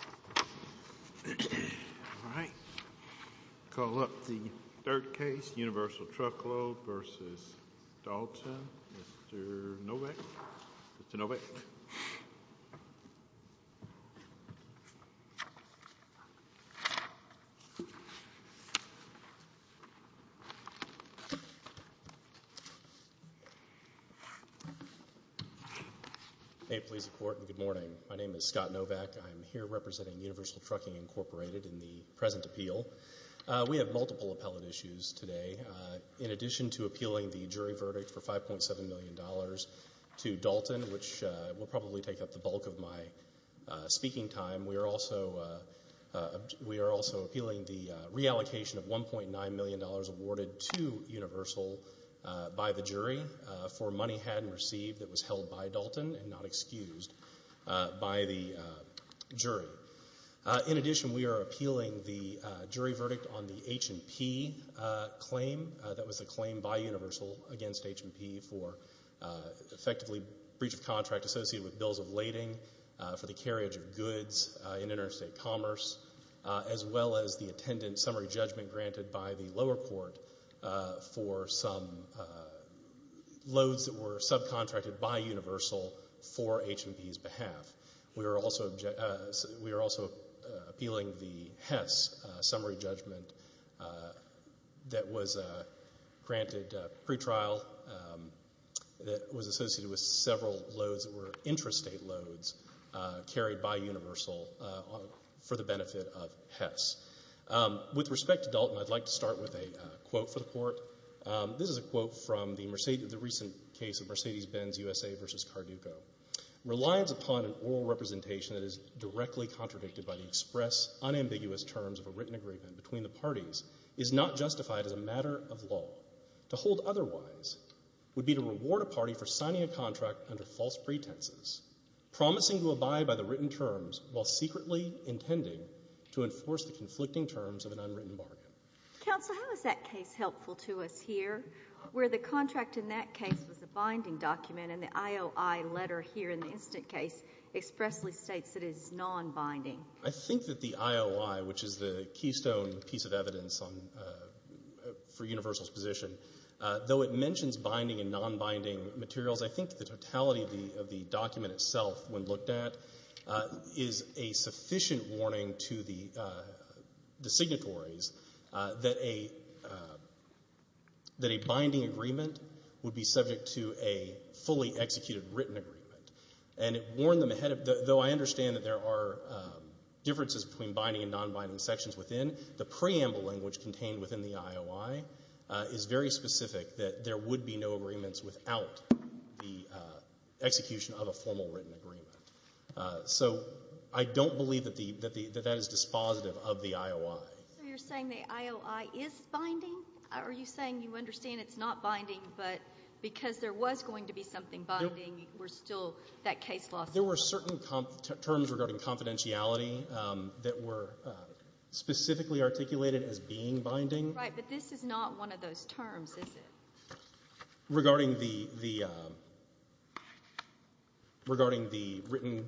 All right, call up the third case, Universal Truckload v. Dalton. Mr. Novak? Mr. Novak? May it please the Court, and good morning. My name is Scott Novak. I'm here representing Universal Trucking, Inc. in the present appeal. We have multiple appellate issues today. In the bulk of my speaking time, we are also appealing the reallocation of $1.9 million awarded to Universal by the jury for money had and received that was held by Dalton and not excused by the jury. In addition, we are appealing the jury verdict on the H&P claim. That was a claim by Universal against H&P for effectively breach of contract associated with bills of lading, for the carriage of goods in interstate commerce, as well as the attendant summary judgment granted by the lower court for some loads that were subcontracted by Universal for H&P's behalf. We are also appealing the HESS summary judgment that was granted pre-trial that was associated with several loads that were interstate loads carried by Universal for the benefit of HESS. With respect to Dalton, I'd like to start with a quote for the Court. This is a quote from the Court of Appeals in San Diego, San Diego. Reliance upon an oral representation that is directly contradicted by the express, unambiguous terms of a written agreement between the parties is not justified as a matter of law. To hold otherwise would be to reward a party for signing a contract under false pretenses, promising to abide by the written terms while secretly intending to enforce the conflicting terms of an unwritten bargain. Counsel, how is that case helpful to us here, where the contract in that case was a binding document and the IOI letter here in the instant case expressly states it is non-binding? I think that the IOI, which is the keystone piece of evidence for Universal's position, though it mentions binding and non-binding materials, I think the totality of the document itself, when looked at, is a sufficient warning to the public that a binding agreement would be subject to a fully executed written agreement. And it warned them ahead of, though I understand that there are differences between binding and non-binding sections within, the preamble language contained within the IOI is very specific that there would be no agreements without the execution of a formal written agreement. So I don't believe that that is dispositive of the IOI. So you're saying the IOI is binding? Are you saying you understand it's not binding, but because there was going to be something binding, we're still, that case lost? There were certain terms regarding confidentiality that were specifically articulated as being binding. Right. But this is not one of those terms, is it? Regarding the written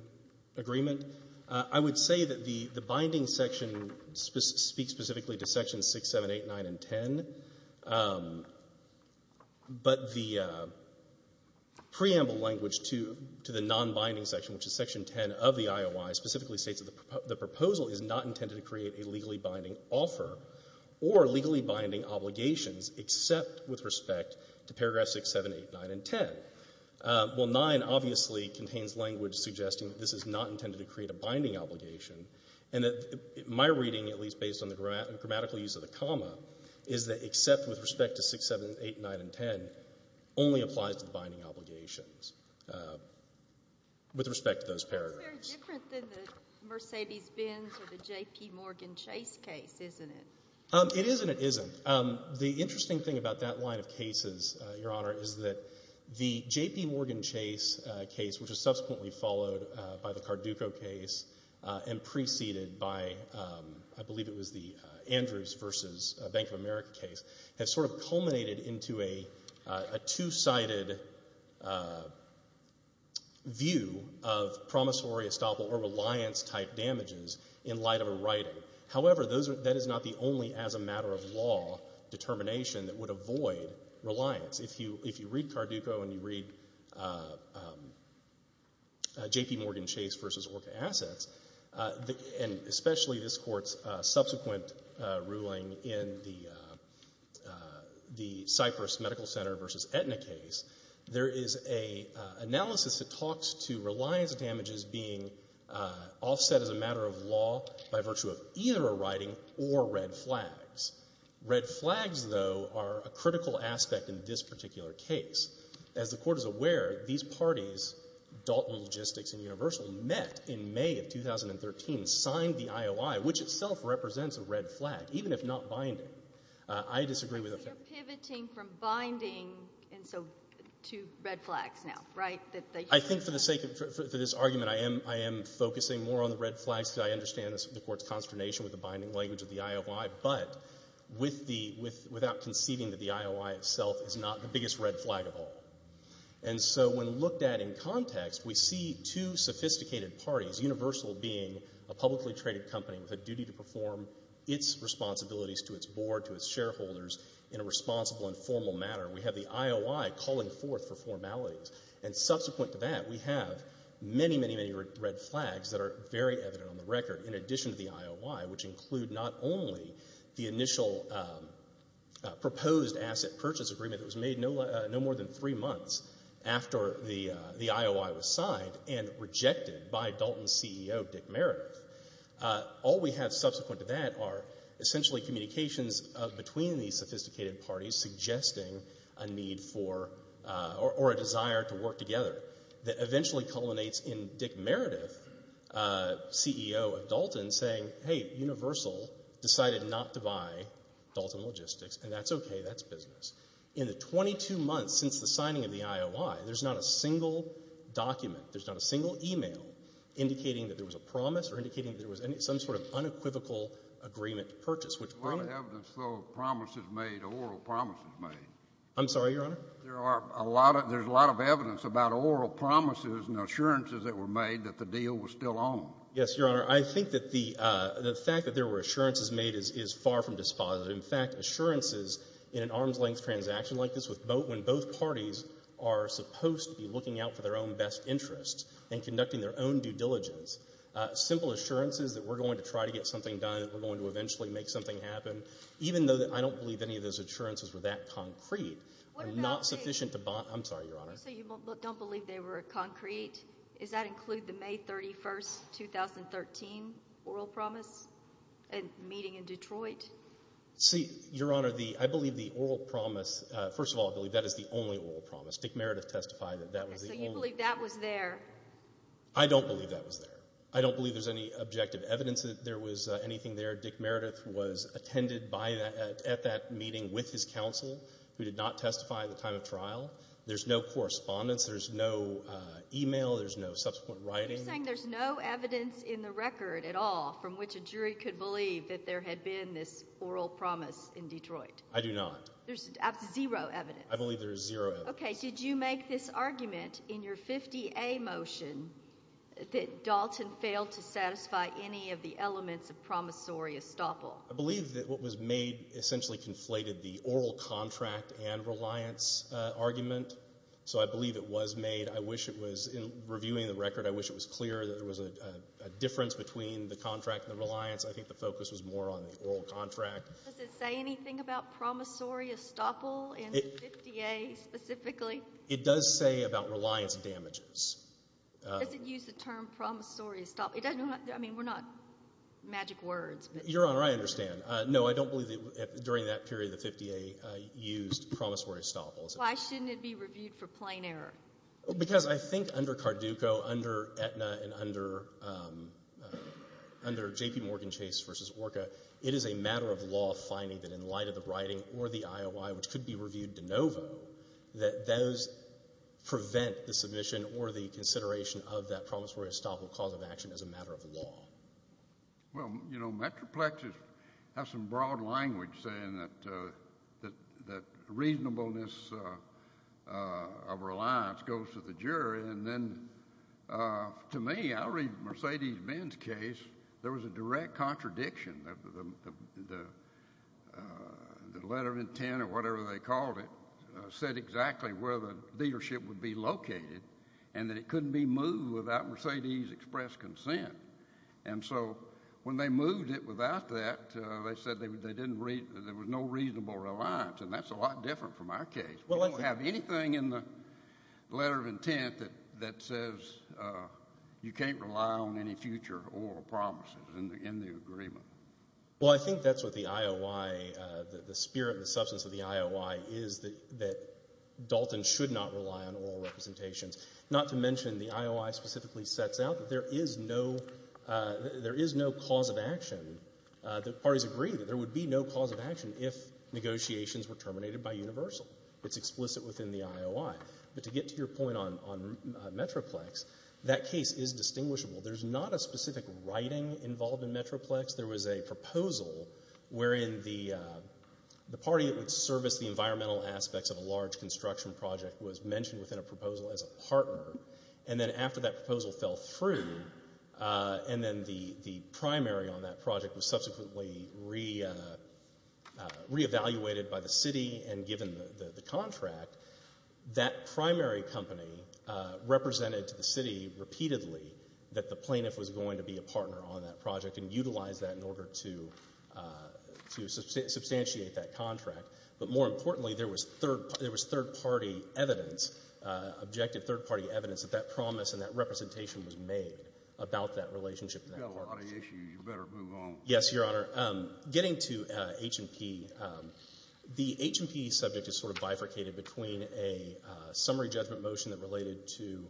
agreement, I would say that the binding section speaks specifically to sections 6, 7, 8, 9, and 10, but the preamble language to the non-binding section, which is section 10 of the IOI, specifically states that the proposal is not intended to create a legally binding offer or legally binding obligations except with respect to paragraphs 6, 7, 8, 9, and 10. Well, 9 obviously contains language suggesting that this is not intended to create a binding obligation, and that my reading, at least based on the grammatical use of the comma, is that except with respect to 6, 7, 8, 9, and 10 only applies to the binding obligations with respect to those paragraphs. It's very different than the Mercedes-Benz or the J.P. Morgan Chase case, isn't it? It is and it isn't. The interesting thing about that line of cases, Your Honor, is that the J.P. Morgan Chase case, which was subsequently followed by the Carduco case and preceded by, I believe it was the Andrews v. Bank of America case, has sort of culminated into a two-sided view of promissory, estoppel, or reliance-type damages in light of a writing. However, that is not the only, as a matter of law, determination that would avoid reliance. If you read Carduco and you read J.P. Morgan Chase v. Orca Assets, and especially this Court's subsequent ruling in the Cypress Medical Center v. Aetna case, there is an analysis that talks to reliance damages being offset as a matter of law by virtue of either a writing or red flags. Red flags, though, are a critical aspect in this particular case. As the Court is aware, these parties, Dalton Logistics and Universal, met in May of 2013, signed the IOI, which itself represents a red flag, even if not binding. I disagree with that. You're pivoting from binding and so to red flags now, right? I think for the sake of this argument, I am focusing more on the red flags because I understand the Court's consternation with the binding language of the IOI. But without conceiving that the IOI itself is not the biggest red flag of all. And so when looked at in context, we see two sophisticated parties, Universal being a publicly traded company with a duty to perform its responsibilities to its board, to its shareholders, in a responsible and formal manner. We have the IOI calling forth for formalities. And subsequent to that, we have many, many, many red flags that are very evident on the record in addition to the IOI, which include not only the initial proposed asset purchase agreement that was made no more than three months after the IOI was signed and rejected by Dalton's CEO, Dick Meredith. All we have subsequent to that are essentially communications between these sophisticated parties suggesting a need for or a desire to work together that eventually culminates in Dick Meredith, CEO of Dalton, saying, hey, Universal decided not to buy Dalton Logistics and that's okay, that's business. In the 22 months since the signing of the IOI, there's not a single document, there's not a single email, indicating that there was a promise or indicating that there was some sort of unequivocal agreement to purchase. There's a lot of evidence, though, of promises made, oral promises made. I'm sorry, Your Honor? There's a lot of evidence about oral promises and assurances that were made that the deal was still on. Yes, Your Honor. I think that the fact that there were assurances made is far from dispositive. In fact, assurances in an arm's-length transaction like this, when both parties are supposed to be looking out for their own best interests and conducting their own due diligence, simple assurances that we're going to try to get something done, that we're going to eventually make something happen, even though I don't believe any of those assurances were that concrete, are not sufficient to bond. I'm sorry, Your Honor? So you don't believe they were concrete? Does that include the May 31, 2013 oral promise meeting in Detroit? See, Your Honor, I believe the oral promise, first of all, I believe that is the only oral promise. Dick Meredith testified that that was the only one. So you believe that was there? I don't believe that was there. I don't believe there's any objective evidence that there was anything there. Dick Meredith was attended at that meeting with his counsel, who did not testify at the time of trial. There's no correspondence. There's no e-mail. There's no subsequent writing. You're saying there's no evidence in the record at all from which a jury could believe that there had been this oral promise in Detroit? I do not. There's zero evidence? I believe there is zero evidence. Okay. Did you make this argument in your 50A motion that Dalton failed to satisfy any of the elements of promissory estoppel? I believe that what was made essentially conflated the oral contract and reliance argument. So I believe it was made. I wish it was, in reviewing the record, I wish it was clear that there was a difference between the contract and the reliance. I think the focus was more on the oral contract. Does it say anything about promissory estoppel in the 50A specifically? It does say about reliance damages. Does it use the term promissory estoppel? I mean, we're not magic words. Your Honor, I understand. No, I don't believe during that period the 50A used promissory estoppel. Why shouldn't it be reviewed for plain error? Because I think under Carduco, under Aetna, and under JPMorgan Chase v. Orca, it is a matter of law finding that in light of the writing or the IOI, which could be reviewed de novo, that those prevent the submission or the consideration of that promissory estoppel cause of action as a matter of law. Well, you know, Metroplexes have some broad language saying that reasonableness of reliance goes to the jury. And then to me, I read Mercedes Benz case, there was a direct contradiction. The letter of intent or whatever they called it said exactly where the leadership would be located and that it couldn't be moved without Mercedes' express consent. And so when they moved it without that, they said there was no reasonable reliance, and that's a lot different from our case. We don't have anything in the letter of intent that says you can't rely on any future oral promises in the agreement. Well, I think that's what the IOI, the spirit and the substance of the IOI, is that Dalton should not rely on oral representations. Not to mention the IOI specifically sets out that there is no cause of action. The parties agree that there would be no cause of action if negotiations were terminated by universal. It's explicit within the IOI. But to get to your point on Metroplex, that case is distinguishable. There's not a specific writing involved in Metroplex. There was a proposal wherein the party that would service the environmental aspects of a large construction project was mentioned within a proposal as a partner, and then after that proposal fell through and then the primary on that project was subsequently reevaluated by the city and given the contract, that primary company represented to the city repeatedly that the plaintiff was going to be a partner on that project and utilize that in order to substantiate that contract. But more importantly, there was third-party evidence, objective third-party evidence, that that promise and that representation was made about that relationship. You've got a lot of issues. You better move on. Yes, Your Honor. Getting to H&P, the H&P subject is sort of bifurcated between a summary judgment motion that related to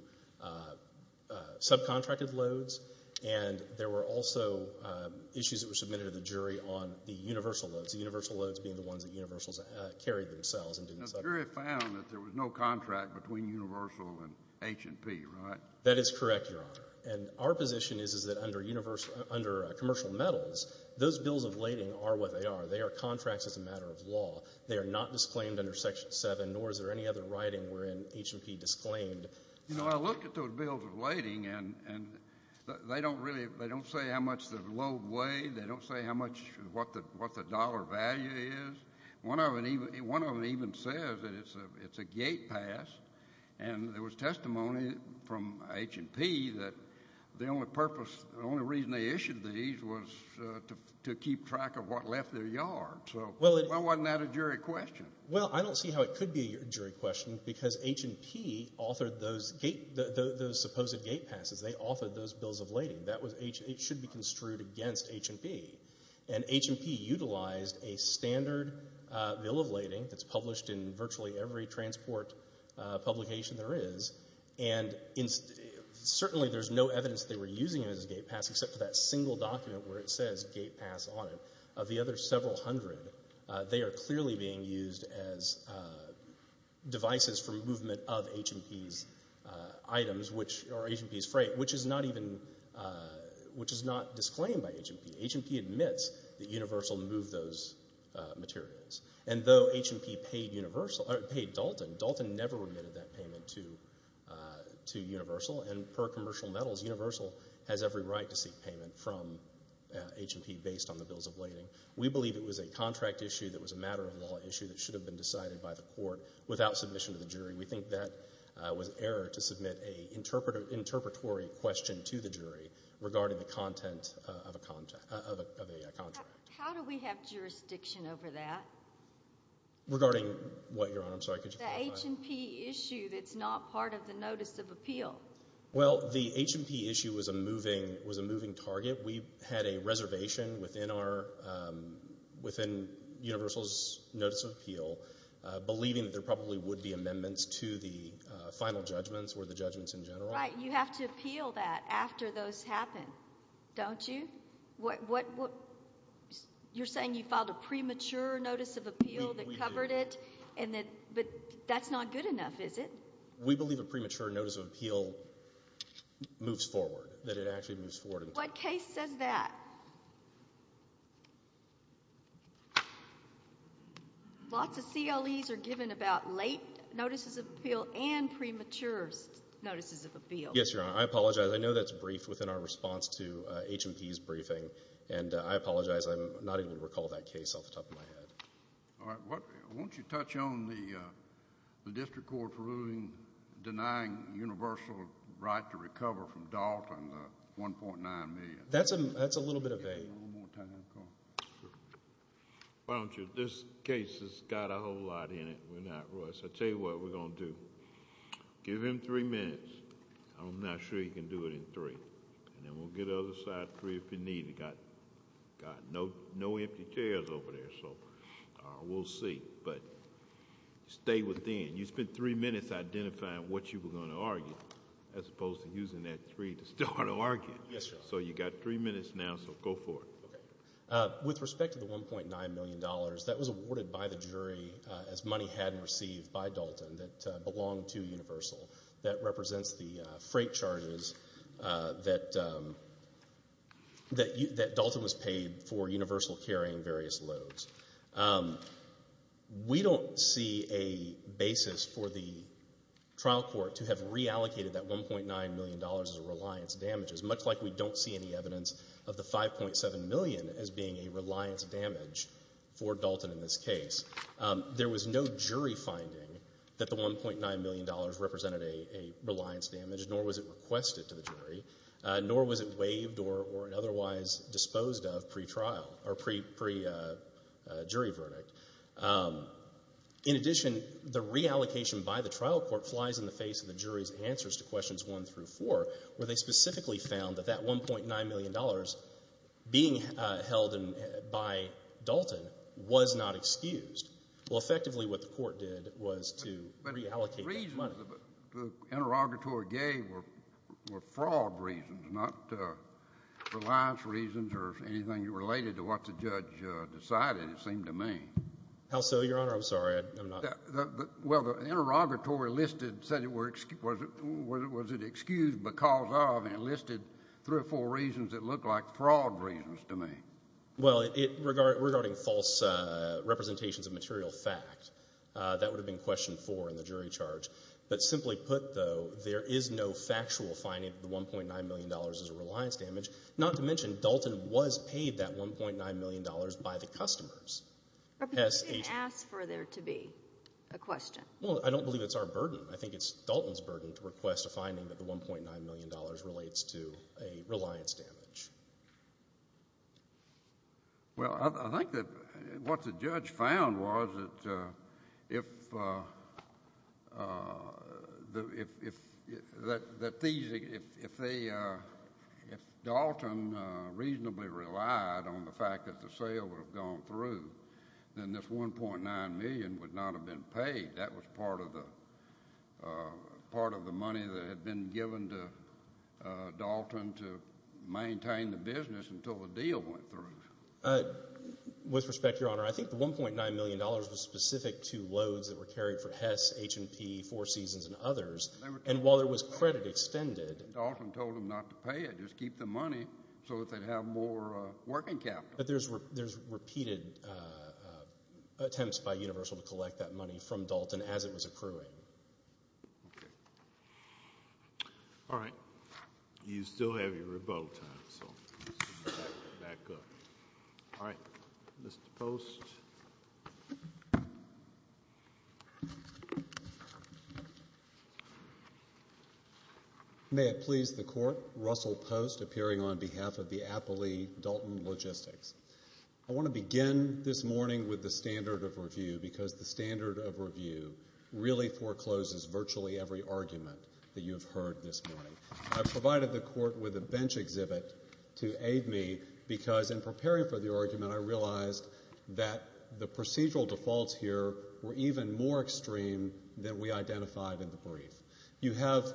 subcontracted loads, and there were also issues that were submitted to the jury on the universal loads, the universal loads being the ones that universals carried themselves. The jury found that there was no contract between universal and H&P, right? That is correct, Your Honor. And our position is that under commercial metals, those bills of lading are what they are. They are contracts as a matter of law. They are not disclaimed under Section 7, nor is there any other writing wherein H&P disclaimed. You know, I looked at those bills of lading, and they don't say how much the load weighed. They don't say how much what the dollar value is. One of them even says that it's a gate pass, and there was testimony from H&P that the only purpose, the only reason they issued these was to keep track of what left their yard. Well, wasn't that a jury question? Well, I don't see how it could be a jury question because H&P authored those supposed gate passes. They authored those bills of lading. It should be construed against H&P, and H&P utilized a standard bill of lading that's published in virtually every transport publication there is, and certainly there's no evidence that they were using it as a gate pass except for that single document where it says gate pass on it. Of the other several hundred, they are clearly being used as devices for movement of H&P's freight, which is not disclaimed by H&P. H&P admits that Universal moved those materials, and though H&P paid Dalton, Dalton never remitted that payment to Universal, and per Commercial Metals, Universal has every right to seek payment from H&P based on the bills of lading. We believe it was a contract issue that was a matter of law issue that should have been decided by the court without submission to the jury. We think that was error to submit an interpretory question to the jury regarding the content of a contract. How do we have jurisdiction over that? Regarding what, Your Honor? I'm sorry, could you clarify? The H&P issue that's not part of the notice of appeal. Well, the H&P issue was a moving target. We had a reservation within Universal's notice of appeal, believing that there probably would be amendments to the final judgments or the judgments in general. Right, you have to appeal that after those happen, don't you? You're saying you filed a premature notice of appeal that covered it, but that's not good enough, is it? We believe a premature notice of appeal moves forward, that it actually moves forward. What case says that? Lots of CLEs are given about late notices of appeal and premature notices of appeal. Yes, Your Honor, I apologize. I know that's briefed within our response to H&P's briefing, and I apologize, I'm not able to recall that case off the top of my head. All right. Why don't you touch on the district court's ruling denying Universal a right to recover from Dalton the $1.9 million? That's a little bit of a... Why don't you... this case has got a whole lot in it. We're not rushed. I'll tell you what we're going to do. Give him three minutes. I'm not sure he can do it in three. And then we'll give the other side three if you need it. We've got no empty chairs over there, so we'll see. But stay within. You spent three minutes identifying what you were going to argue, as opposed to using that three to start an argument. Yes, Your Honor. So you've got three minutes now, so go for it. Okay. With respect to the $1.9 million, that was awarded by the jury as money hadn't received by Dalton that belonged to Universal. That represents the freight charges that Dalton was paid for Universal carrying various loads. We don't see a basis for the trial court to have reallocated that $1.9 million as reliance damages, much like we don't see any evidence of the $5.7 million as being a reliance damage for Dalton in this case. There was no jury finding that the $1.9 million represented a reliance damage, nor was it requested to the jury, nor was it waived or otherwise disposed of pre-trial or pre-jury verdict. In addition, the reallocation by the trial court flies in the face of the jury's answers to questions one through four, where they specifically found that that $1.9 million being held by Dalton was not excused. Well, effectively what the court did was to reallocate that money. But the reasons the interrogatory gave were fraud reasons, not reliance reasons or anything related to what the judge decided, it seemed to me. How so, Your Honor? I'm sorry. Well, the interrogatory listed said it was excused because of and listed three or four reasons that looked like fraud reasons to me. Well, regarding false representations of material fact, that would have been question four in the jury charge. But simply put, though, there is no factual finding that the $1.9 million is a reliance damage, not to mention Dalton was paid that $1.9 million by the customers. Representative, you didn't ask for there to be a question. Well, I don't believe it's our burden. I think it's Dalton's burden to request a finding that the $1.9 million relates to a reliance damage. Well, I think that what the judge found was that if Dalton reasonably relied on the fact that the sale would have gone through, then this $1.9 million would not have been paid. That was part of the money that had been given to Dalton to maintain the business until the deal went through. With respect, Your Honor, I think the $1.9 million was specific to loads that were carried for Hess, H&P, Four Seasons, and others. And while there was credit extended. Dalton told them not to pay it, just keep the money so that they'd have more working capital. But there's repeated attempts by Universal to collect that money from Dalton as it was accruing. All right. You still have your rebuttal time, so let's back up. All right. Mr. Post. May it please the Court. Russell Post, appearing on behalf of the Appley Dalton Logistics. I want to begin this morning with the standard of review because the standard of review really forecloses virtually every argument that you have heard this morning. I've provided the Court with a bench exhibit to aid me because in preparing for the argument, I realized that the procedural defaults here were even more extreme than we identified in the brief. You have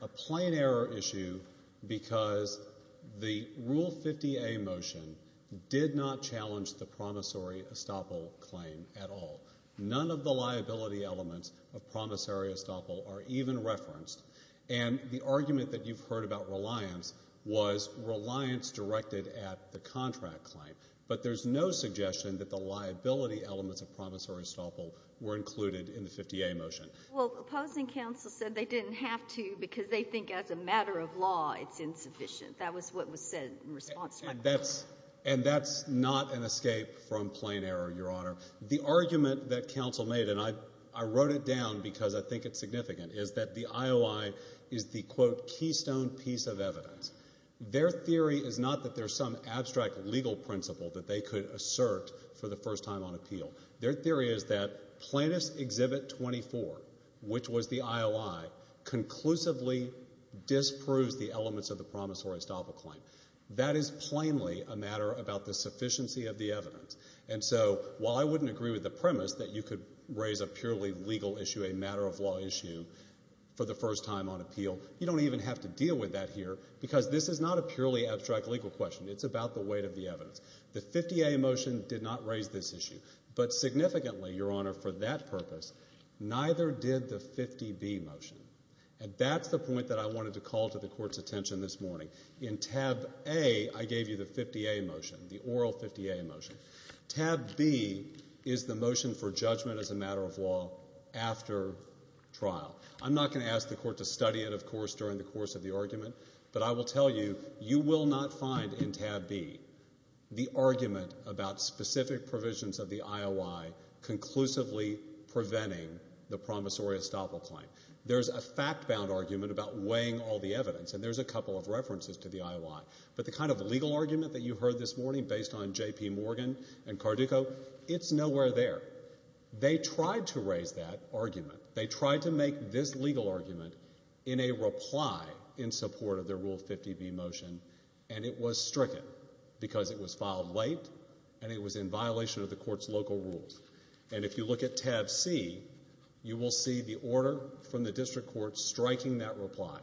a plain error issue because the Rule 50A motion did not challenge the promissory estoppel claim at all. None of the liability elements of promissory estoppel are even referenced. And the argument that you've heard about reliance was reliance directed at the contract claim. But there's no suggestion that the liability elements of promissory estoppel were included in the 50A motion. Well, opposing counsel said they didn't have to because they think as a matter of law it's insufficient. That was what was said in response to my question. And that's not an escape from plain error, Your Honor. The argument that counsel made, and I wrote it down because I think it's significant, is that the IOI is the, quote, keystone piece of evidence. Their theory is not that there's some abstract legal principle that they could assert for the first time on appeal. Their theory is that Plaintiff's Exhibit 24, which was the IOI, conclusively disproves the elements of the promissory estoppel claim. That is plainly a matter about the sufficiency of the evidence. And so while I wouldn't agree with the premise that you could raise a purely legal issue, a matter of law issue, for the first time on appeal, you don't even have to deal with that here because this is not a purely abstract legal question. It's about the weight of the evidence. The 50A motion did not raise this issue. But significantly, Your Honor, for that purpose, neither did the 50B motion. And that's the point that I wanted to call to the Court's attention this morning. In tab A, I gave you the 50A motion, the oral 50A motion. Tab B is the motion for judgment as a matter of law after trial. I'm not going to ask the Court to study it, of course, during the course of the argument, but I will tell you, you will not find in tab B the argument about specific provisions of the IOI conclusively preventing the promissory estoppel claim. There's a fact-bound argument about weighing all the evidence, and there's a couple of references to the IOI. But the kind of legal argument that you heard this morning based on J.P. Morgan and Cardico, it's nowhere there. They tried to raise that argument. They tried to make this legal argument in a reply in support of the Rule 50B motion, and it was stricken because it was filed late and it was in violation of the Court's local rules. And if you look at tab C, you will see the order from the district court striking that reply.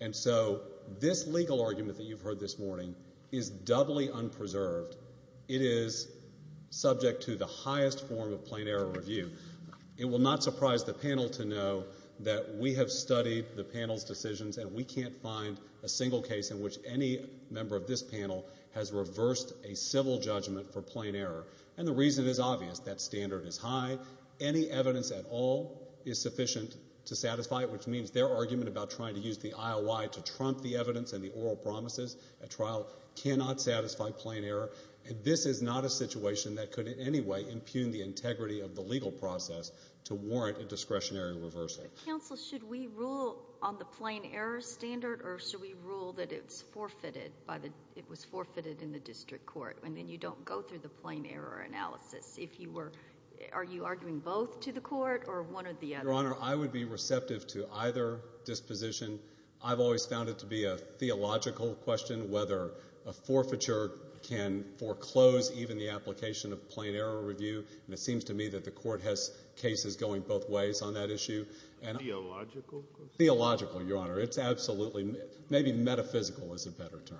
And so this legal argument that you've heard this morning is doubly unpreserved. It is subject to the highest form of plain error review. It will not surprise the panel to know that we have studied the panel's decisions and we can't find a single case in which any member of this panel has reversed a civil judgment for plain error. And the reason is obvious. That standard is high. Any evidence at all is sufficient to satisfy it, which means their argument about trying to use the IOI to trump the evidence and the oral promises at trial cannot satisfy plain error. And this is not a situation that could in any way impugn the integrity of the legal process to warrant a discretionary reversal. But, counsel, should we rule on the plain error standard, or should we rule that it was forfeited in the district court and then you don't go through the plain error analysis? If you were—are you arguing both to the Court or one or the other? Your Honor, I would be receptive to either disposition. I've always found it to be a theological question whether a forfeiture can foreclose even the application of plain error review. And it seems to me that the Court has cases going both ways on that issue. Theological? Theological, Your Honor. It's absolutely—maybe metaphysical is a better term.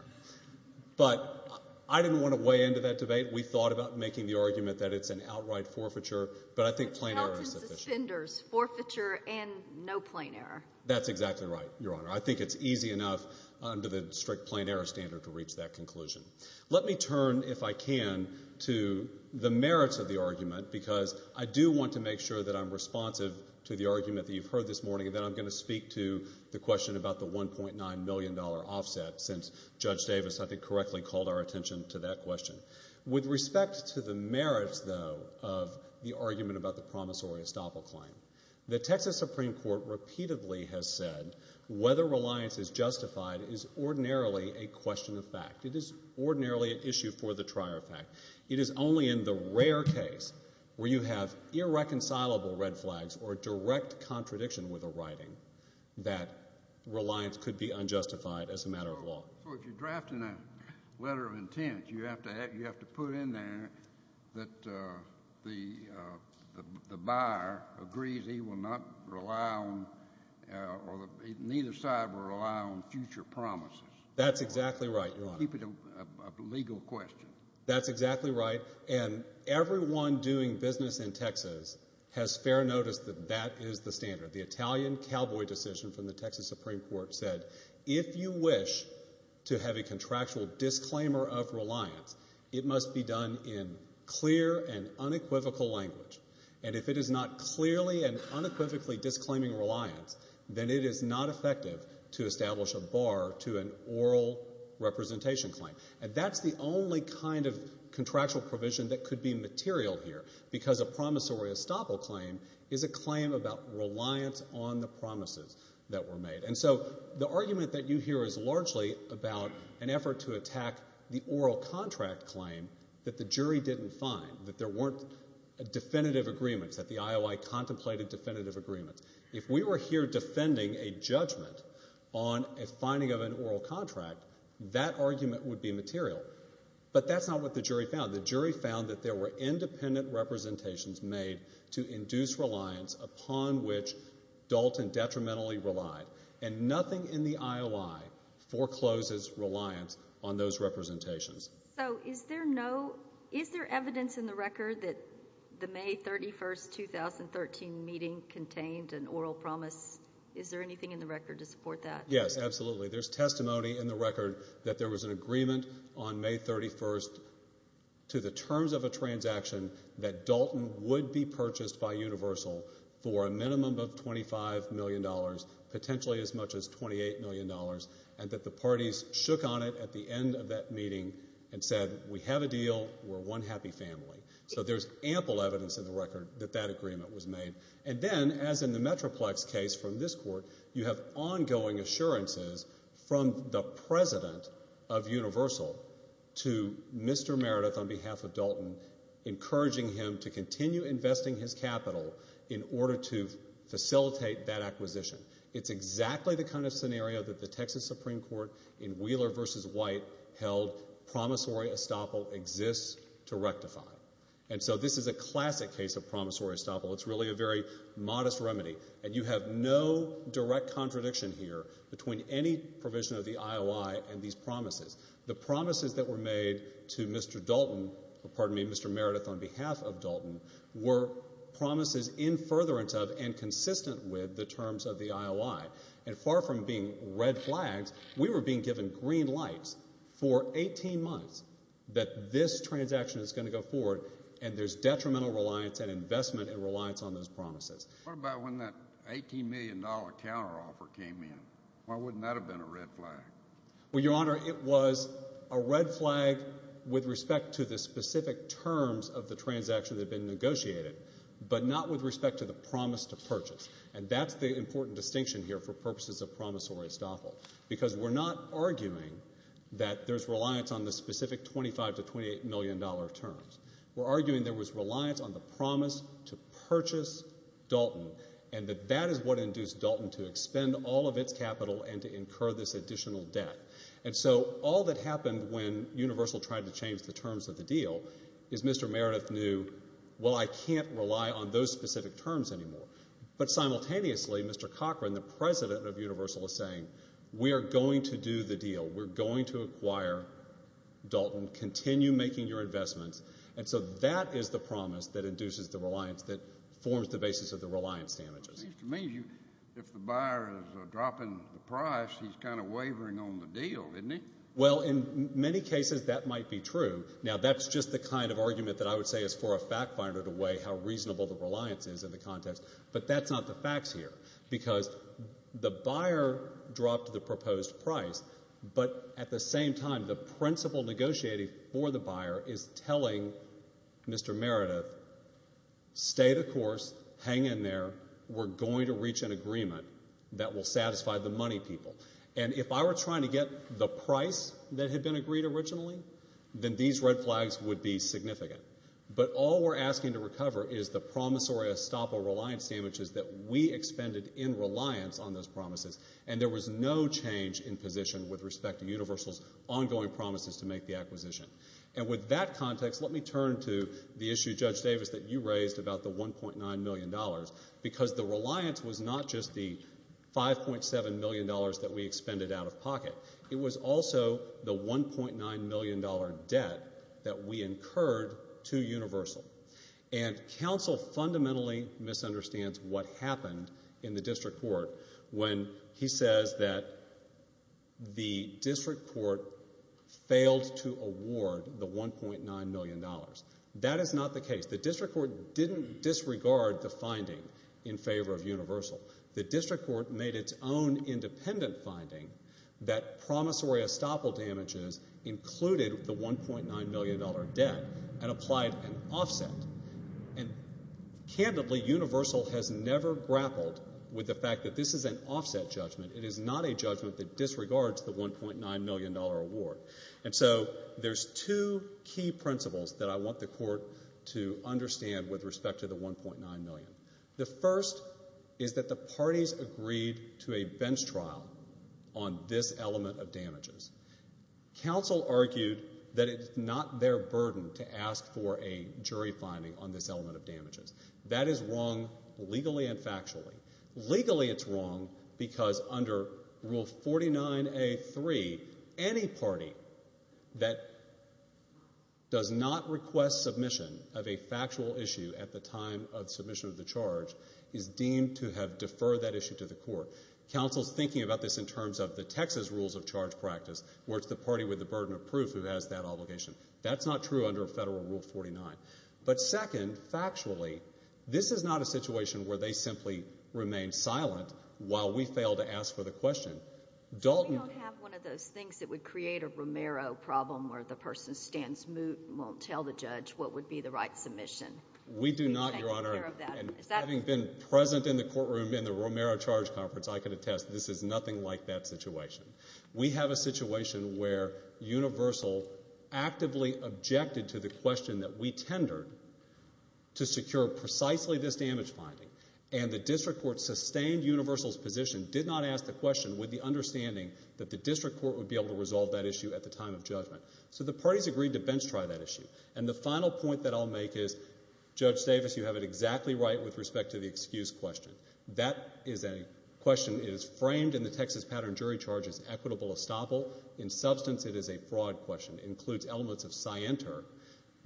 But I didn't want to weigh into that debate. We thought about making the argument that it's an outright forfeiture, but I think plain error is sufficient. Which helps as offenders, forfeiture and no plain error. That's exactly right, Your Honor. I think it's easy enough under the district plain error standard to reach that conclusion. Let me turn, if I can, to the merits of the argument, because I do want to make sure that I'm responsive to the argument that you've heard this morning, and then I'm going to speak to the question about the $1.9 million offset since Judge Davis, I think, correctly called our attention to that question. With respect to the merits, though, of the argument about the promissory estoppel claim, the Texas Supreme Court repeatedly has said whether reliance is justified is ordinarily a question of fact. It is ordinarily an issue for the trier of fact. It is only in the rare case where you have irreconcilable red flags or direct contradiction with a writing that reliance could be unjustified as a matter of law. So if you're drafting a letter of intent, you have to put in there that the buyer agrees he will not rely on or neither side will rely on future promises. That's exactly right, Your Honor. To keep it a legal question. That's exactly right. And everyone doing business in Texas has fair notice that that is the standard. The Italian cowboy decision from the Texas Supreme Court said if you wish to have a contractual disclaimer of reliance, it must be done in clear and unequivocal language. And if it is not clearly and unequivocally disclaiming reliance, then it is not effective to establish a bar to an oral representation claim. And that's the only kind of contractual provision that could be material here because a promissory estoppel claim is a claim about reliance on the promises that were made. And so the argument that you hear is largely about an effort to attack the oral contract claim that the jury didn't find, that there weren't definitive agreements, that the IOI contemplated definitive agreements. If we were here defending a judgment on a finding of an oral contract, that argument would be material. But that's not what the jury found. The jury found that there were independent representations made to induce reliance upon which Dalton detrimentally relied. And nothing in the IOI forecloses reliance on those representations. So is there evidence in the record that the May 31, 2013 meeting contained an oral promise? Is there anything in the record to support that? Yes, absolutely. There's testimony in the record that there was an agreement on May 31 to the terms of a transaction that Dalton would be purchased by Universal for a minimum of $25 million, potentially as much as $28 million, and that the parties shook on it at the end of that meeting and said, we have a deal, we're one happy family. So there's ample evidence in the record that that agreement was made. And then, as in the Metroplex case from this court, you have ongoing assurances from the president of Universal to Mr. Meredith on behalf of Dalton encouraging him to continue investing his capital in order to facilitate that acquisition. It's exactly the kind of scenario that the Texas Supreme Court in Wheeler v. White held promissory estoppel exists to rectify. And so this is a classic case of promissory estoppel. It's really a very modest remedy. And you have no direct contradiction here between any provision of the IOI and these promises. The promises that were made to Mr. Dalton, pardon me, Mr. Meredith on behalf of Dalton, were promises in furtherance of and consistent with the terms of the IOI. And far from being red flags, we were being given green lights for 18 months that this transaction is going to go forward and there's detrimental reliance and investment and reliance on those promises. What about when that $18 million counteroffer came in? Why wouldn't that have been a red flag? Well, Your Honor, it was a red flag with respect to the specific terms of the transaction that had been negotiated but not with respect to the promise to purchase. And that's the important distinction here for purposes of promissory estoppel because we're not arguing that there's reliance on the specific $25 million to $28 million terms. We're arguing there was reliance on the promise to purchase Dalton and that that is what induced Dalton to expend all of its capital and to incur this additional debt. And so all that happened when Universal tried to change the terms of the deal is Mr. Meredith knew, well, I can't rely on those specific terms anymore. But simultaneously, Mr. Cochran, the president of Universal, is saying, we are going to do the deal. We're going to acquire Dalton. Continue making your investments. And so that is the promise that induces the reliance that forms the basis of the reliance damages. It seems to me if the buyer is dropping the price, he's kind of wavering on the deal, isn't he? Well, in many cases, that might be true. Now, that's just the kind of argument that I would say is for a fact finder to weigh how reasonable the reliance is in the context, but that's not the facts here because the buyer dropped the proposed price, but at the same time, the principle negotiated for the buyer is telling Mr. Meredith, stay the course, hang in there, we're going to reach an agreement that will satisfy the money people. And if I were trying to get the price that had been agreed originally, then these red flags would be significant. But all we're asking to recover is the promissory estoppel reliance damages that we expended in reliance on those promises, and there was no change in position with respect to Universal's ongoing promises to make the acquisition. And with that context, let me turn to the issue, Judge Davis, that you raised about the $1.9 million because the reliance was not just the $5.7 million that we expended out of pocket. It was also the $1.9 million debt that we incurred to Universal. And counsel fundamentally misunderstands what happened in the district court when he says that the district court failed to award the $1.9 million. That is not the case. The district court didn't disregard the finding in favor of Universal. The district court made its own independent finding that promissory estoppel damages included the $1.9 million debt and applied an offset. And candidly, Universal has never grappled with the fact that this is an offset judgment. It is not a judgment that disregards the $1.9 million award. And so there's two key principles that I want the court to understand with respect to the $1.9 million. The first is that the parties agreed to a bench trial on this element of damages. Counsel argued that it's not their burden to ask for a jury finding on this element of damages. That is wrong legally and factually. Legally it's wrong because under Rule 49A.3, any party that does not request submission of a factual issue at the time of submission of the charge is deemed to have deferred that issue to the court. Counsel's thinking about this in terms of the Texas rules of charge practice where it's the party with the burden of proof who has that obligation. That's not true under Federal Rule 49. But second, factually, this is not a situation where they simply remain silent while we fail to ask for the question. We don't have one of those things that would create a Romero problem where the person stands moot and won't tell the judge what would be the right submission. We do not, Your Honor. Having been present in the courtroom in the Romero charge conference, I can attest this is nothing like that situation. We have a situation where Universal actively objected to the question that we tendered to secure precisely this damage finding. And the district court sustained Universal's position, did not ask the question with the understanding that the district court would be able to resolve that issue at the time of judgment. So the parties agreed to bench try that issue. And the final point that I'll make is, Judge Davis, you have it exactly right with respect to the excuse question. That question is framed in the Texas pattern jury charge as equitable estoppel. In substance, it is a fraud question. It includes elements of scienter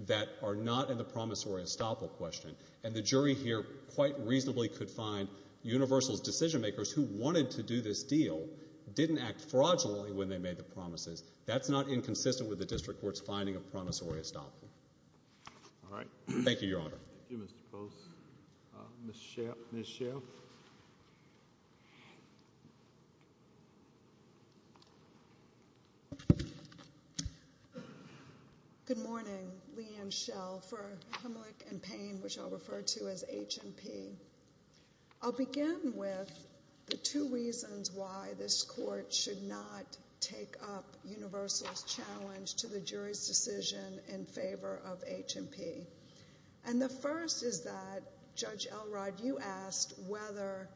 that are not in the promissory estoppel question. And the jury here quite reasonably could find Universal's decision makers who wanted to do this deal didn't act fraudulently when they made the promises. That's not inconsistent with the district court's finding of promissory estoppel. All right. Thank you, Your Honor. Thank you, Mr. Post. Ms. Schell. Good morning. Leigh Ann Schell for Hemlick and Payne, which I'll refer to as H&P. I'll begin with the two reasons why this court should not take up Universal's challenge to the jury's decision in favor of H&P. And the first is that, Judge Elrod, you asked whether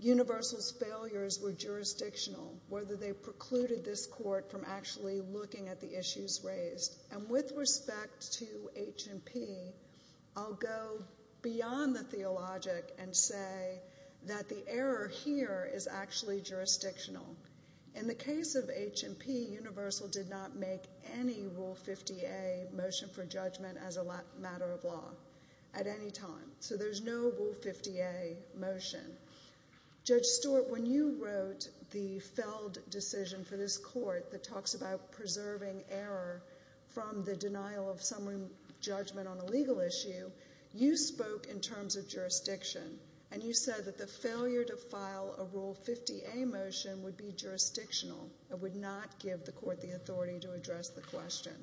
Universal's failures were jurisdictional, whether they precluded this court from actually looking at the issues raised. And with respect to H&P, I'll go beyond the theologic and say that the error here is actually jurisdictional. In the case of H&P, Universal did not make any Rule 50A motion for judgment as a matter of law at any time. So there's no Rule 50A motion. Judge Stewart, when you wrote the Feld decision for this court that talks about preserving error from the denial of summary judgment on a legal issue, you spoke in terms of jurisdiction. And you said that the failure to file a Rule 50A motion would be jurisdictional and would not give the court the authority to address the question.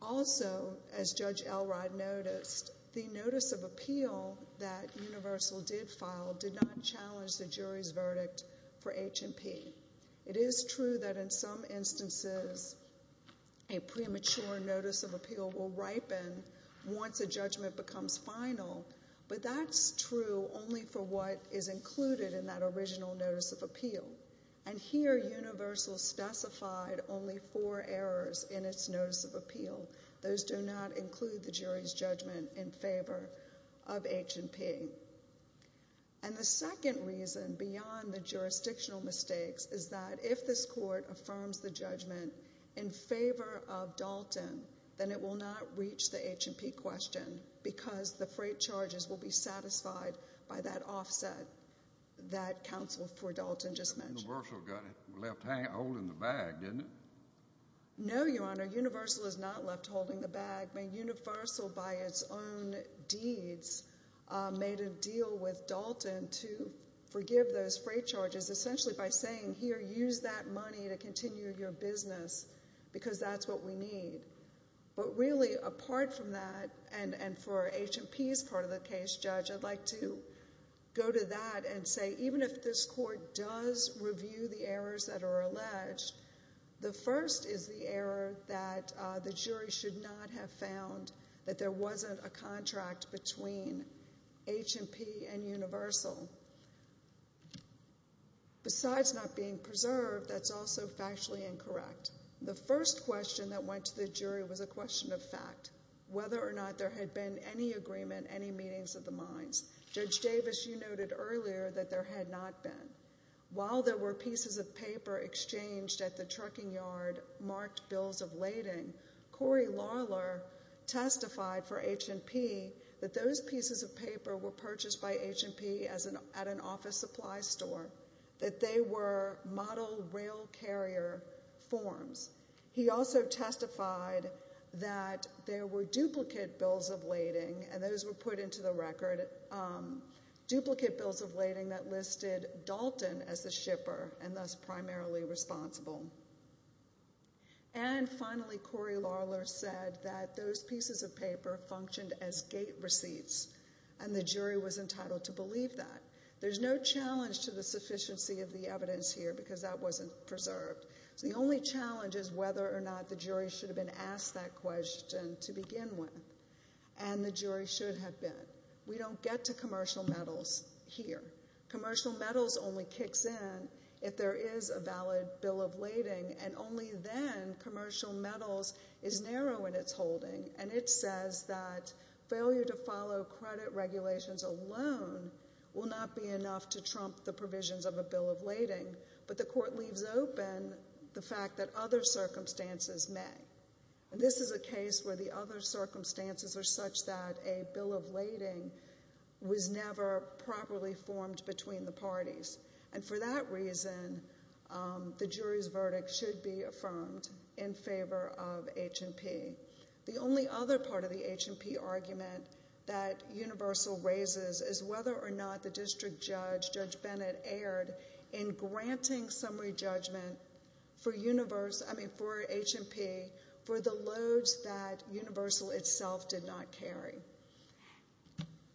Also, as Judge Elrod noticed, the notice of appeal that Universal did file did not challenge the jury's verdict for H&P. It is true that in some instances a premature notice of appeal will ripen once a judgment becomes final, but that's true only for what is included in that original notice of appeal. And here Universal specified only four errors in its notice of appeal. Those do not include the jury's judgment in favor of H&P. And the second reason beyond the jurisdictional mistakes is that if this court affirms the judgment in favor of Dalton, then it will not reach the H&P question because the freight charges will be satisfied by that offset that counsel for Dalton just mentioned. But Universal got left holding the bag, didn't it? No, Your Honor. Universal is not left holding the bag. Universal, by its own deeds, made a deal with Dalton to forgive those freight charges, essentially by saying, Here, use that money to continue your business because that's what we need. But really, apart from that, and for H&P's part of the case, Judge, I'd like to go to that and say even if this court does review the errors that are alleged, the first is the error that the jury should not have found that there wasn't a contract between H&P and Universal. Besides not being preserved, that's also factually incorrect. The first question that went to the jury was a question of fact, whether or not there had been any agreement, any meetings of the minds. Judge Davis, you noted earlier that there had not been. While there were pieces of paper exchanged at the trucking yard marked bills of lading, Corey Larler testified for H&P that those pieces of paper were purchased by H&P at an office supply store, that they were model rail carrier forms. He also testified that there were duplicate bills of lading, and those were put into the record, duplicate bills of lading that listed Dalton as the shipper and thus primarily responsible. And finally, Corey Larler said that those pieces of paper functioned as gate receipts, and the jury was entitled to believe that. There's no challenge to the sufficiency of the evidence here because that wasn't preserved. So the only challenge is whether or not the jury should have been asked that question to begin with, and the jury should have been. We don't get to commercial metals here. Commercial metals only kicks in if there is a valid bill of lading, and only then commercial metals is narrow in its holding, and it says that failure to follow credit regulations alone will not be enough to trump the provisions of a bill of lading, but the court leaves open the fact that other circumstances may. This is a case where the other circumstances are such that a bill of lading was never properly formed between the parties, and for that reason, the jury's verdict should be affirmed in favor of H&P. The only other part of the H&P argument that Universal raises is whether or not the district judge, Judge Bennett, erred in granting summary judgment for H&P for the loads that Universal itself did not carry.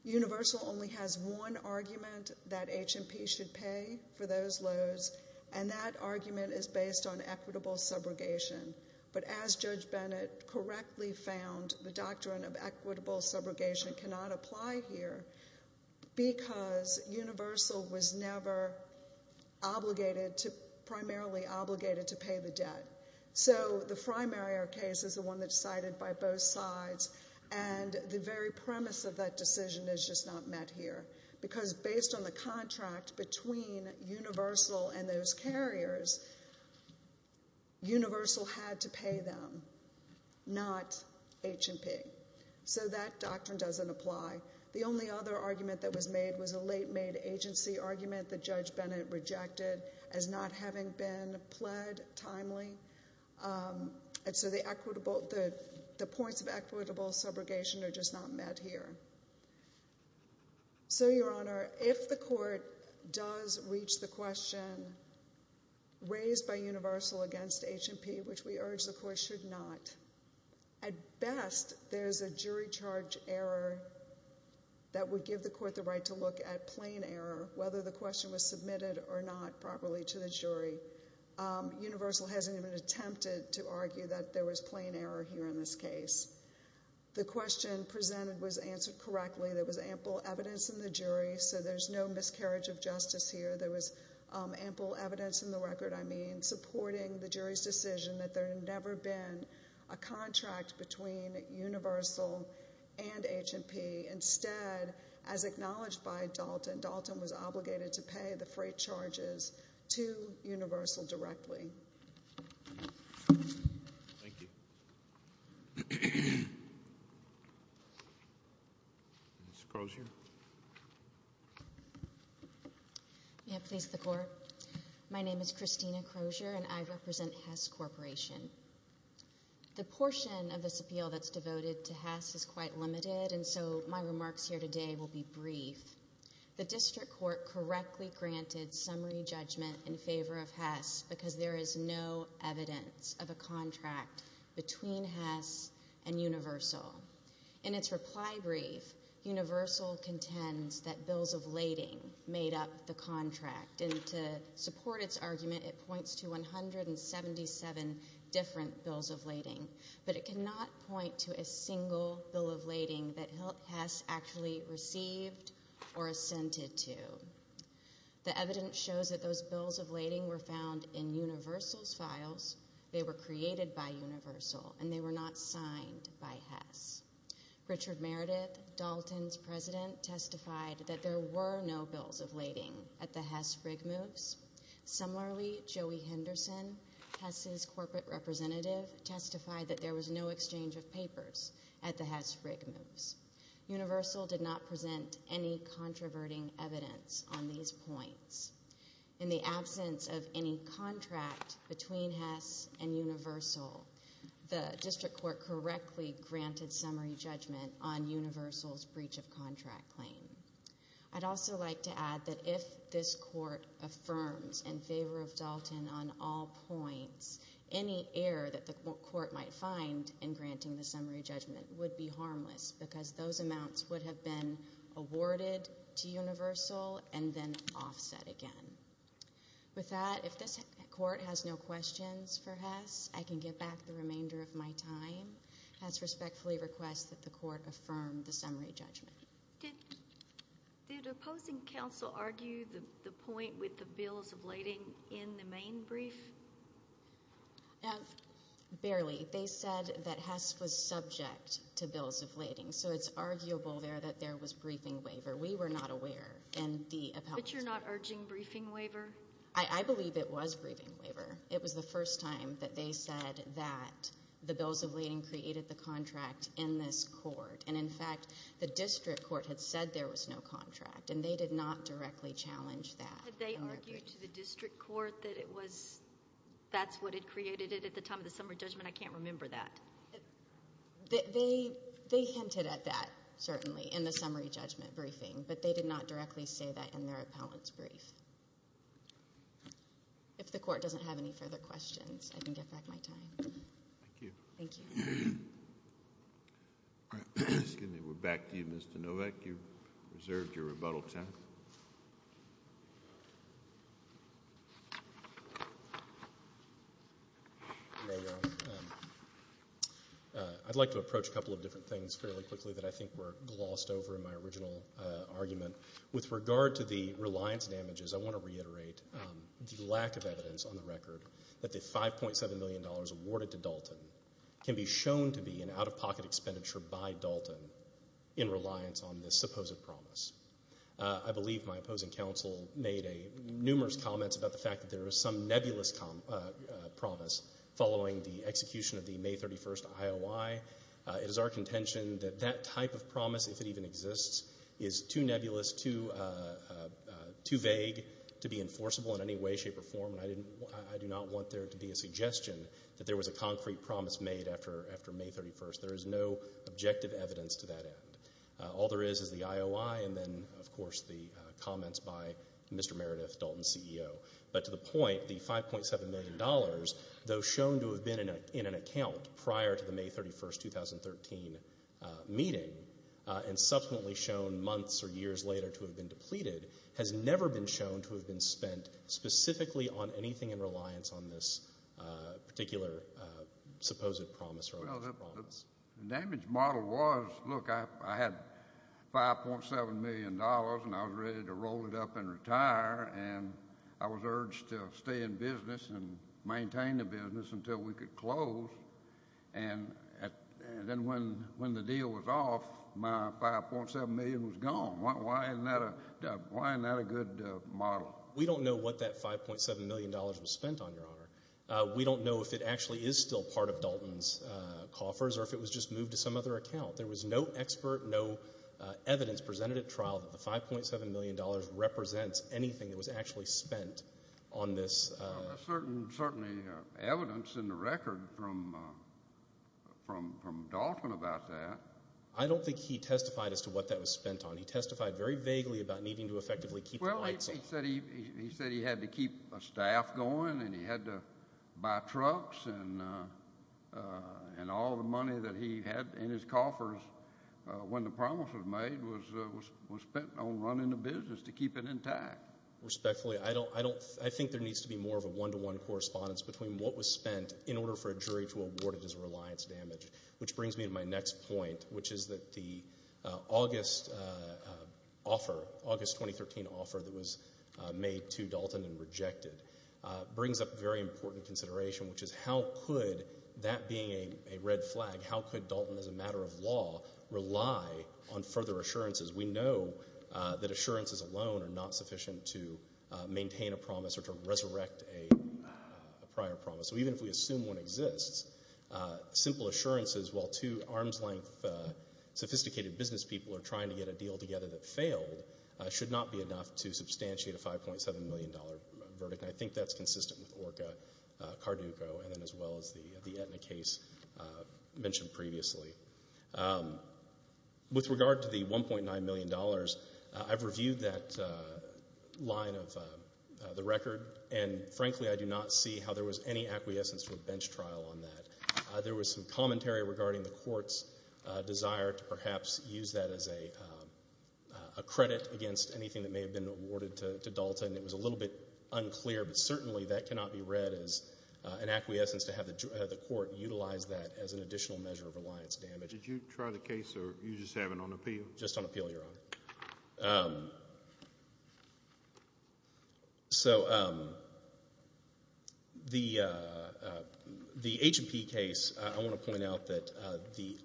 Universal only has one argument that H&P should pay for those loads, and that argument is based on equitable subrogation. But as Judge Bennett correctly found, the doctrine of equitable subrogation cannot apply here because Universal was never primarily obligated to pay the debt. So the Frye-Marriott case is the one that's cited by both sides, and the very premise of that decision is just not met here because based on the contract between Universal and those carriers, Universal had to pay them, not H&P. So that doctrine doesn't apply. The only other argument that was made was a late-made agency argument that Judge Bennett rejected as not having been pled timely. And so the points of equitable subrogation are just not met here. So, Your Honor, if the court does reach the question raised by Universal against H&P, which we urge the court should not, at best there's a jury charge error that would give the court the right to look at plain error, whether the question was submitted or not properly to the jury. Universal hasn't even attempted to argue that there was plain error here in this case. The question presented was answered correctly. There was ample evidence in the jury, so there's no miscarriage of justice here. There was ample evidence in the record, I mean, supporting the jury's decision that there had never been a contract between Universal and H&P. Instead, as acknowledged by Dalton, Dalton was obligated to pay the freight charges to Universal directly. Thank you. Ms. Crozier. May it please the Court. My name is Christina Crozier, and I represent Hess Corporation. The portion of this appeal that's devoted to Hess is quite limited, and so my remarks here today will be brief. The district court correctly granted summary judgment in favor of Hess because there is no evidence of a contract between Hess and Universal. In its reply brief, Universal contends that bills of lading made up the contract, and to support its argument, it points to 177 different bills of lading, but it cannot point to a single bill of lading that Hess actually received or assented to. The evidence shows that those bills of lading were found in Universal's files. They were created by Universal, and they were not signed by Hess. Richard Meredith, Dalton's president, testified that there were no bills of lading at the Hess rig moves. Similarly, Joey Henderson, Hess's corporate representative, testified that there was no exchange of papers at the Hess rig moves. Universal did not present any controverting evidence on these points. In the absence of any contract between Hess and Universal, the district court correctly granted summary judgment on Universal's breach of contract claim. I'd also like to add that if this court affirms in favor of Dalton on all points, any error that the court might find in granting the summary judgment would be harmless because those amounts would have been awarded to Universal and then offset again. With that, if this court has no questions for Hess, I can get back the remainder of my time. Hess respectfully requests that the court affirm the summary judgment. Did opposing counsel argue the point with the bills of lading in the main brief? Barely. They said that Hess was subject to bills of lading. So it's arguable there that there was briefing waiver. We were not aware. But you're not urging briefing waiver? I believe it was briefing waiver. It was the first time that they said that the bills of lading created the contract in this court. And, in fact, the district court had said there was no contract, and they did not directly challenge that. Had they argued to the district court that it was that's what had created it at the time of the summary judgment? I can't remember that. They hinted at that, certainly, in the summary judgment briefing, but they did not directly say that in their appellant's brief. If the court doesn't have any further questions, I can get back my time. Thank you. Thank you. We're back to you, Mr. Novak. You've reserved your rebuttal time. I'd like to approach a couple of different things fairly quickly that I think were glossed over in my original argument. With regard to the reliance damages, I want to reiterate the lack of evidence on the record that the $5.7 million awarded to Dalton can be shown to be an out-of-pocket expenditure by Dalton in reliance on this supposed promise. I believe my opposing counsel made numerous comments about the fact that there is some nebulous promise following the execution of the May 31st IOI. It is our contention that that type of promise, if it even exists, is too nebulous, too vague, to be enforceable in any way, shape, or form, and I do not want there to be a suggestion that there was a concrete promise made after May 31st. There is no objective evidence to that end. All there is is the IOI and then, of course, the comments by Mr. Meredith, Dalton's CEO. But to the point, the $5.7 million, though shown to have been in an account prior to the May 31st, 2013 meeting and subsequently shown months or years later to have been depleted, has never been shown to have been spent specifically on anything in reliance on this particular supposed promise. Well, the damage model was, look, I had $5.7 million, and I was ready to roll it up and retire, and I was urged to stay in business and maintain the business until we could close. And then when the deal was off, my $5.7 million was gone. Why isn't that a good model? We don't know what that $5.7 million was spent on, Your Honor. We don't know if it actually is still part of Dalton's coffers or if it was just moved to some other account. There was no expert, no evidence presented at trial that the $5.7 million represents anything that was actually spent on this. There's certainly evidence in the record from Dalton about that. I don't think he testified as to what that was spent on. He testified very vaguely about needing to effectively keep the lights on. Well, he said he had to keep a staff going and he had to buy trucks, and all the money that he had in his coffers when the promise was made was spent on running the business to keep it intact. Respectfully, I think there needs to be more of a one-to-one correspondence between what was spent in order for a jury to award it as reliance damage, which brings me to my next point, which is that the August 2013 offer that was made to Dalton and rejected brings up a very important consideration, which is how could that being a red flag, how could Dalton, as a matter of law, rely on further assurances? We know that assurances alone are not sufficient to maintain a promise or to resurrect a prior promise. So even if we assume one exists, simple assurances, while two arm's-length sophisticated business people are trying to get a deal together that failed, should not be enough to substantiate a $5.7 million verdict. And I think that's consistent with ORCA, Carduco, and then as well as the Aetna case mentioned previously. With regard to the $1.9 million, I've reviewed that line of the record, and frankly I do not see how there was any acquiescence for a bench trial on that. There was some commentary regarding the court's desire to perhaps use that as a credit against anything that may have been awarded to Dalton. It was a little bit unclear, but certainly that cannot be read as an acquiescence to have the court utilize that as an additional measure of reliance damage. Did you try the case or you just have it on appeal? Just on appeal, Your Honor. So the H&P case, I want to point out that the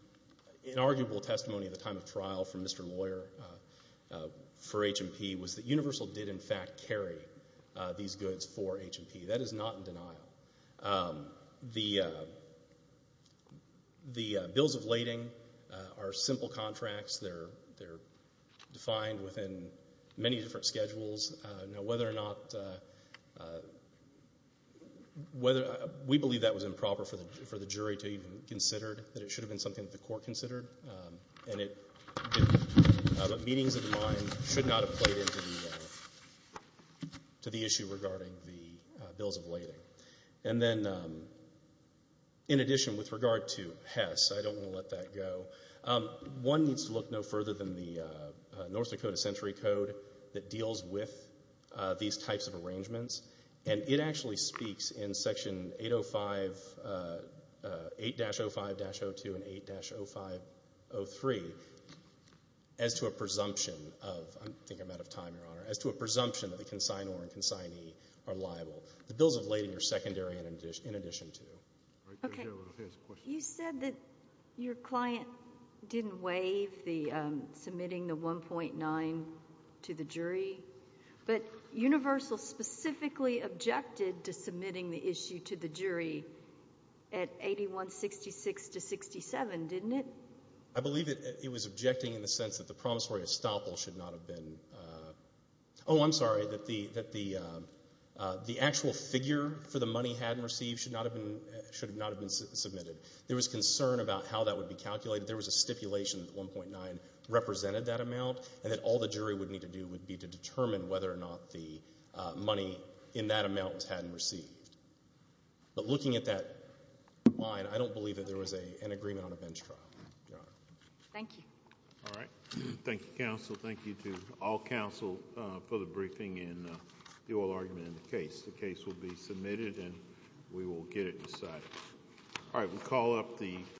inarguable testimony at the time of trial from Mr. Lawyer for H&P was that Universal did in fact carry these goods for H&P. That is not in denial. The bills of lading are simple contracts. They're defined within many different schedules. Now, whether or not we believe that was improper for the jury to even consider, that it should have been something that the court considered, but meetings of the mind should not have played into the issue regarding the bills of lading. And then, in addition, with regard to Hess, I don't want to let that go. One needs to look no further than the North Dakota Century Code that deals with these types of arrangements, and it actually speaks in Section 805, 8-05-02 and 8-05-03 as to a presumption of, I think I'm out of time, Your Honor, as to a presumption that the consignor and consignee are liable. The bills of lading are secondary in addition to. Okay. You said that your client didn't waive the submitting the 1.9 to the jury, but Universal specifically objected to submitting the issue to the jury at 8166-67, didn't it? I believe it was objecting in the sense that the promissory estoppel should not have been – oh, I'm sorry, that the actual figure for the money hadn't received should not have been submitted. There was concern about how that would be calculated. There was a stipulation that 1.9 represented that amount, and that all the jury would need to do would be to determine whether or not the money in that amount was had and received. But looking at that line, I don't believe that there was an agreement on a bench trial, Your Honor. Thank you. All right. Thank you, counsel. Thank you to all counsel for the briefing and the oral argument in the case. The case will be submitted, and we will get it decided. All right.